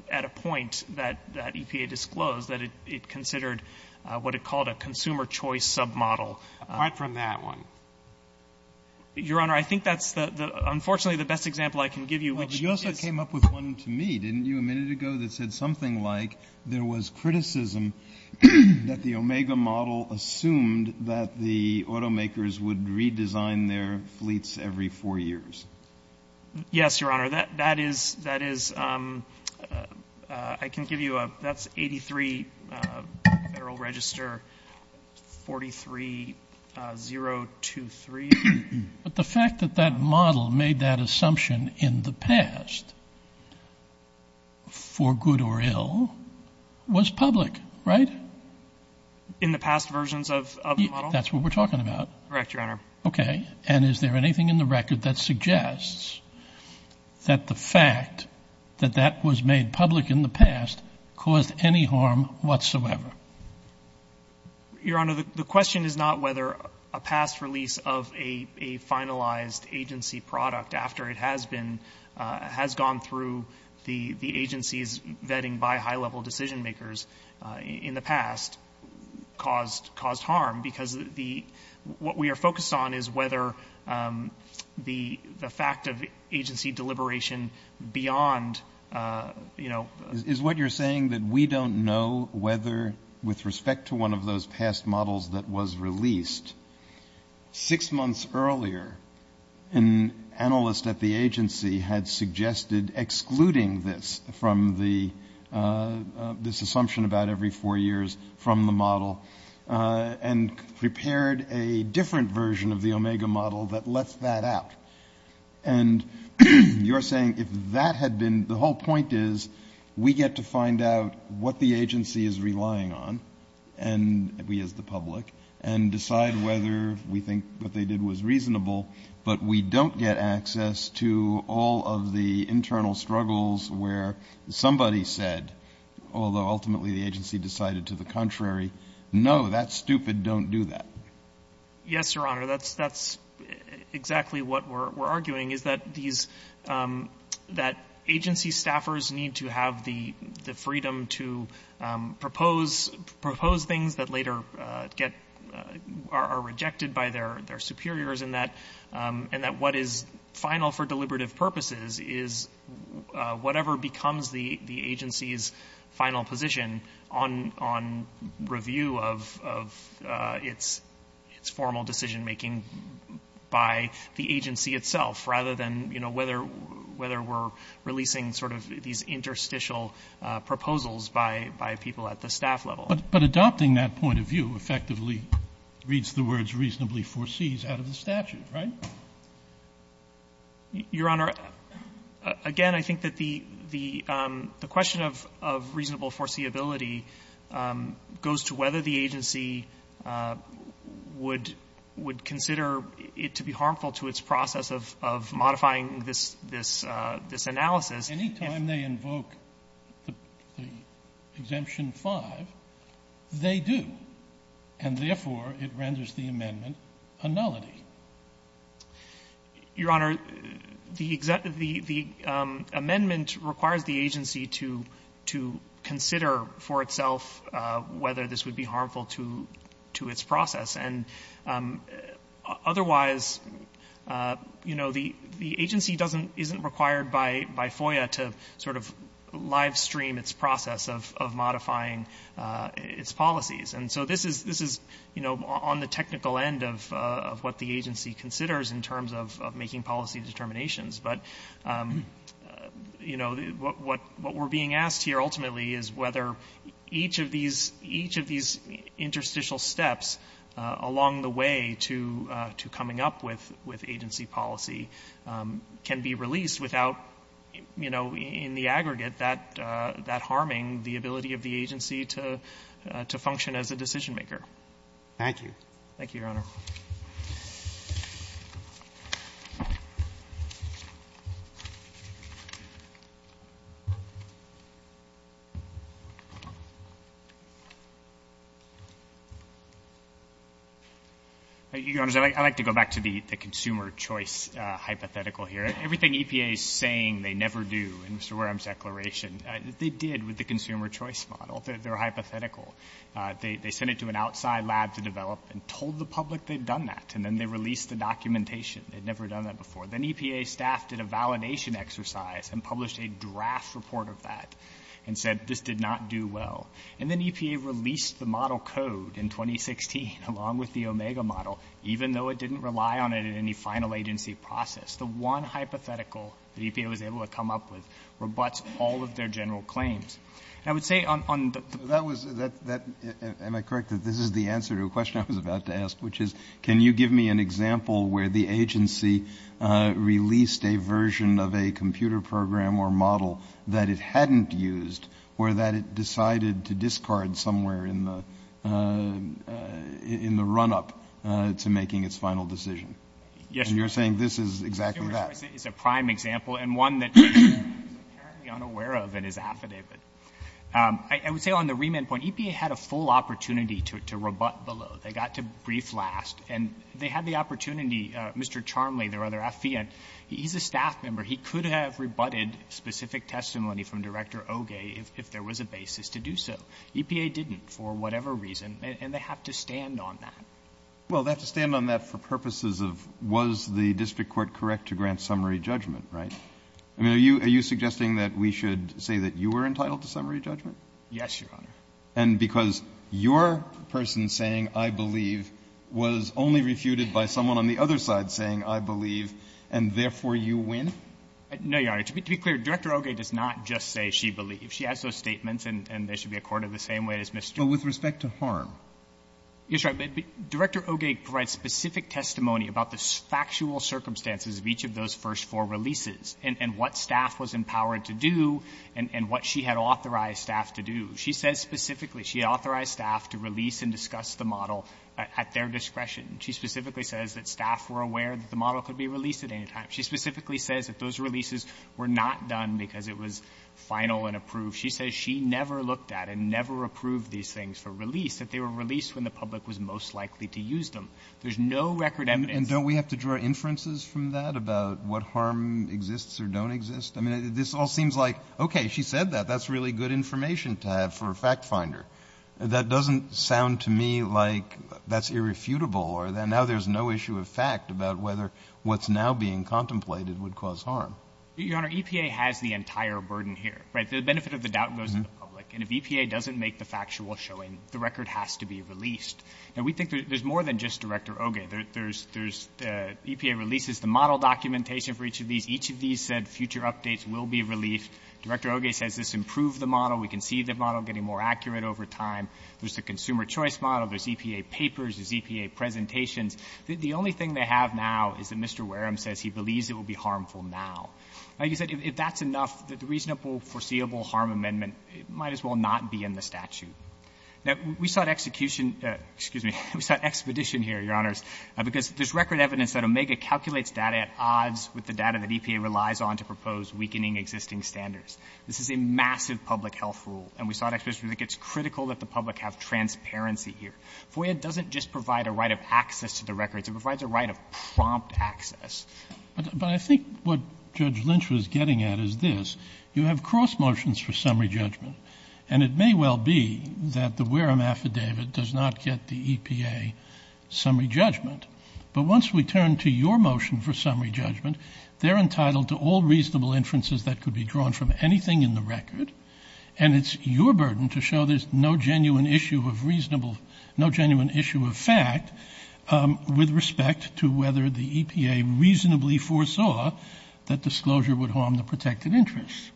a point that EPA disclosed, that it considered what it called a consumer choice submodel. Apart from that one. Your Honor, I think that's unfortunately the best example I can give you, which is — Well, but you also came up with one to me, didn't you, a minute ago, that said something like there was criticism that the Omega model assumed that the automakers would redesign their fleets every four years. Yes, Your Honor. That is — I can give you a — that's 83 Federal Register 43023. But the fact that that model made that assumption in the past, for good or ill, was public, right? In the past versions of the model? That's what we're talking about. Correct, Your Honor. Okay. And is there anything in the record that suggests that the fact that that was made public in the past caused any harm whatsoever? Your Honor, the question is not whether a past release of a finalized agency product after it has been — has gone through the agency's vetting by high-level decision-makers in the past caused harm. Because the — what we are focused on is whether the fact of agency deliberation beyond, you know — Is what you're saying that we don't know whether, with respect to one of those past models that was released, six months earlier an analyst at the agency had suggested excluding this from the — this assumption about every four years from the model and prepared a different version of the Omega model that left that out? And you're saying if that had been — the whole point is we get to find out what the agency is relying on, and we as the public, and decide whether we think what they did was reasonable, but we don't get access to all of the internal struggles where somebody said, although ultimately the agency decided to the contrary, no, that's stupid, don't do that. Yes, Your Honor. That's exactly what we're arguing, is that these — that agency staffers need to have the freedom to propose things that later get — are rejected by their superiors, and that what is final for deliberative purposes is whatever becomes the agency's final position on review of its formal decision-making by the agency itself, rather than, you know, whether we're releasing sort of these interstitial proposals by people at the staff level. But adopting that point of view effectively reads the words reasonably foresees out of the statute, right? Your Honor, again, I think that the question of reasonable foreseeability goes to whether the agency would consider it to be harmful to its process of modifying this analysis. Any time they invoke the Exemption 5, they do, and therefore it renders the amendment a nullity. Your Honor, the amendment requires the agency to consider for itself whether this would be harmful to its process. And otherwise, you know, the agency doesn't — isn't required by FOIA to sort of livestream its process of modifying its policies. And so this is, you know, on the technical end of what the agency considers in terms of making policy determinations. But, you know, what we're being asked here ultimately is whether each of these interstitial steps along the way to coming up with agency policy can be released without, you know, in the aggregate, that harming the ability of the agency to function as a decision-maker. Thank you. Thank you, Your Honor. Your Honors, I'd like to go back to the consumer choice hypothetical here. Everything EPA is saying they never do in Mr. Wareham's declaration, they did with the consumer choice model. They're hypothetical. They sent it to an outside lab to develop and told the public they'd done that. And then they released the documentation. They'd never done that before. Then EPA staff did a validation exercise and published a draft report of that and said this did not do well. And then EPA released the model code in 2016 along with the Omega model, even though it didn't rely on it in any final agency process. The one hypothetical that EPA was able to come up with rebuts all of their general claims. And I would say on the — That was — am I correct that this is the answer to a question I was about to ask, which is can you give me an example where the agency released a version of a computer program or model that it hadn't used or that it decided to discard somewhere in the Yes, Your Honor. You're saying this is exactly that. Consumer choice is a prime example and one that is apparently unaware of and is affidavit. I would say on the remand point, EPA had a full opportunity to rebut below. They got to brief last. And they had the opportunity. Mr. Charmley, their other affidavit, he's a staff member. He could have rebutted specific testimony from Director Oge if there was a basis to do so. EPA didn't for whatever reason. And they have to stand on that. Well, they have to stand on that for purposes of was the district court correct to grant summary judgment, right? Are you suggesting that we should say that you were entitled to summary judgment? Yes, Your Honor. And because your person saying, I believe, was only refuted by someone on the other side saying, I believe, and therefore you win? No, Your Honor. To be clear, Director Oge does not just say she believes. She has those statements and they should be accorded the same way as Mr. But with respect to harm. Yes, Your Honor. Director Oge provides specific testimony about the factual circumstances of each of those first four releases and what staff was empowered to do and what she had authorized staff to do. She says specifically she authorized staff to release and discuss the model at their discretion. She specifically says that staff were aware that the model could be released at any time. She specifically says that those releases were not done because it was final and approved. She says she never looked at and never approved these things for release, that they were released when the public was most likely to use them. There's no record evidence. And don't we have to draw inferences from that about what harm exists or don't exist? I mean, this all seems like, okay, she said that. That's really good information to have for a fact finder. That doesn't sound to me like that's irrefutable or that now there's no issue of fact about whether what's now being contemplated would cause harm. Your Honor, EPA has the entire burden here, right? The benefit of the doubt goes to the public. And if EPA doesn't make the factual showing, the record has to be released. Now, we think there's more than just Director Oge. There's EPA releases, the model documentation for each of these. Each of these said future updates will be released. Director Oge says this improved the model. We can see the model getting more accurate over time. There's the consumer choice model. There's EPA papers. There's EPA presentations. The only thing they have now is that Mr. Wareham says he believes it will be harmful now. Now, you said if that's enough, the reasonable foreseeable harm amendment might as well not be in the statute. Now, we sought execution — excuse me, we sought expedition here, Your Honors, because there's record evidence that Omega calculates data at odds with the data that EPA relies on to propose weakening existing standards. This is a massive public health rule, and we sought expedition because it's critical that the public have transparency here. FOIA doesn't just provide a right of access to the records. It provides a right of prompt access. But I think what Judge Lynch was getting at is this. You have cross motions for summary judgment, and it may well be that the Wareham affidavit does not get the EPA summary judgment. But once we turn to your motion for summary judgment, they're entitled to all reasonable inferences that could be drawn from anything in the record, and it's your burden to show there's no genuine issue of reasonable — with respect to whether the EPA reasonably foresaw that disclosure would harm the protected interest.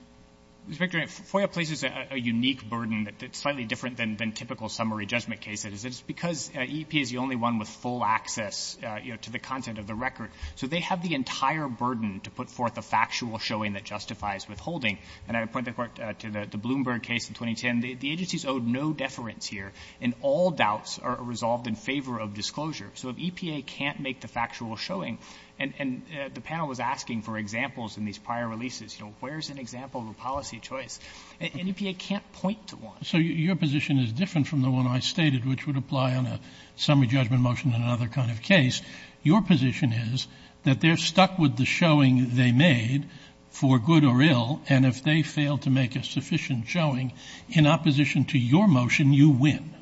Mr. McDermott, FOIA places a unique burden that's slightly different than typical summary judgment cases. It's because EPA is the only one with full access, you know, to the content of the record. So they have the entire burden to put forth a factual showing that justifies withholding. And I would point the Court to the Bloomberg case in 2010. The agencies owed no deference here, and all doubts are resolved in favor of disclosure. So if EPA can't make the factual showing — and the panel was asking for examples in these prior releases. You know, where's an example of a policy choice? And EPA can't point to one. So your position is different from the one I stated, which would apply on a summary judgment motion in another kind of case. Your position is that they're stuck with the showing they made for good or ill, and if they fail to make a sufficient showing in opposition to your motion, you win.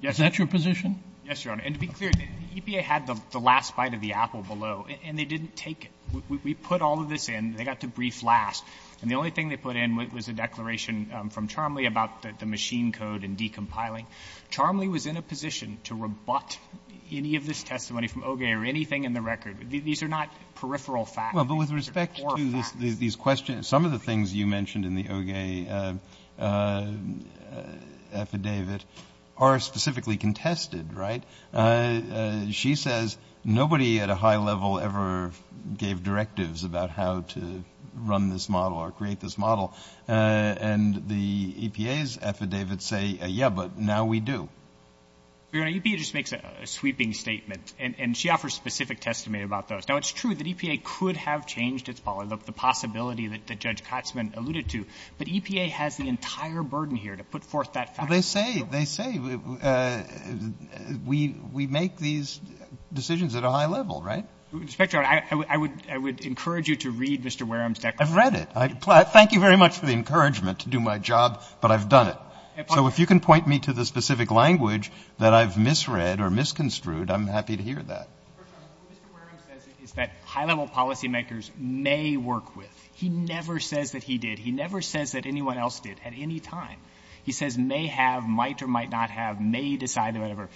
Yes. Is that your position? Yes, Your Honor. And to be clear, EPA had the last bite of the apple below, and they didn't take it. We put all of this in. They got to brief last. And the only thing they put in was a declaration from Charmley about the machine code and decompiling. Charmley was in a position to rebut any of this testimony from OGA or anything in the record. These are not peripheral facts. These are core facts. But with respect to these questions, some of the things you mentioned in the OGA affidavit are specifically contested, right? She says nobody at a high level ever gave directives about how to run this model or create this model. And the EPA's affidavits say, yeah, but now we do. Your Honor, EPA just makes a sweeping statement, and she offers specific testimony about those. Now, it's true that EPA could have changed its policy, the possibility that Judge Kotsman alluded to, but EPA has the entire burden here to put forth that fact. Well, they say we make these decisions at a high level, right? Inspector, I would encourage you to read Mr. Wareham's declaration. I've read it. Thank you very much for the encouragement to do my job, but I've done it. So if you can point me to the specific language that I've misread or misconstrued, I'm happy to hear that. First of all, what Mr. Wareham says is that high-level policymakers may work with. He never says that he did. He never says that anyone else did at any time. He says may have, might or might not have, may decide, or whatever.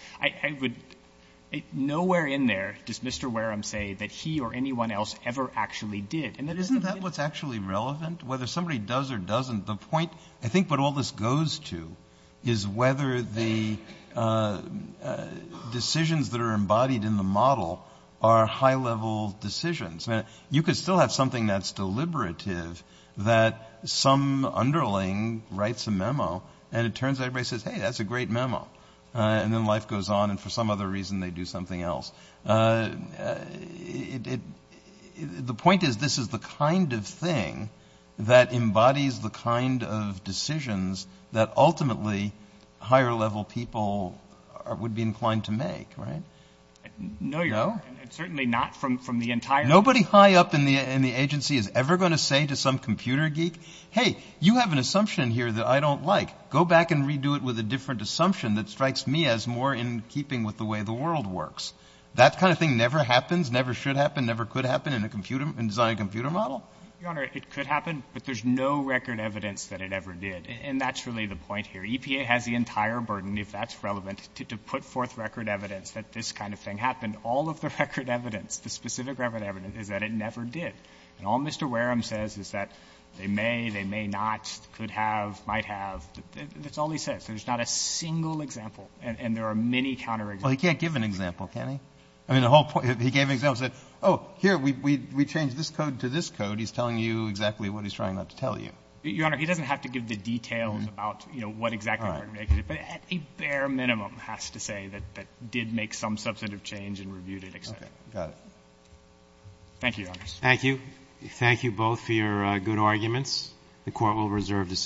Nowhere in there does Mr. Wareham say that he or anyone else ever actually did. Isn't that what's actually relevant? Whether somebody does or doesn't, the point I think what all this goes to is whether the decisions that are embodied in the model are high-level decisions. You could still have something that's deliberative that some underling writes a memo and it turns out everybody says, hey, that's a great memo. And then life goes on and for some other reason they do something else. The point is this is the kind of thing that embodies the kind of decisions that ultimately higher-level people would be inclined to make, right? No, certainly not from the entire. Nobody high up in the agency is ever going to say to some computer geek, hey, you have an assumption here that I don't like. Go back and redo it with a different assumption that strikes me as more in keeping with the way the world works. That kind of thing never happens, never should happen, never could happen in designing a computer model. Your Honor, it could happen, but there's no record evidence that it ever did. And that's really the point here. EPA has the entire burden, if that's relevant, to put forth record evidence that this kind of thing happened. And all of the record evidence, the specific record evidence, is that it never did. And all Mr. Wareham says is that they may, they may not, could have, might have. That's all he says. There's not a single example. And there are many counterexamples. Well, he can't give an example, can he? I mean, the whole point, if he gave an example and said, oh, here, we changed this code to this code, he's telling you exactly what he's trying not to tell you. Your Honor, he doesn't have to give the details about, you know, what exactly happened. But at a bare minimum has to say that it did make some substantive change and reviewed it, et cetera. Okay. Got it. Thank you, Your Honors. Thank you. Thank you both for your good arguments. The Court will reserve decision.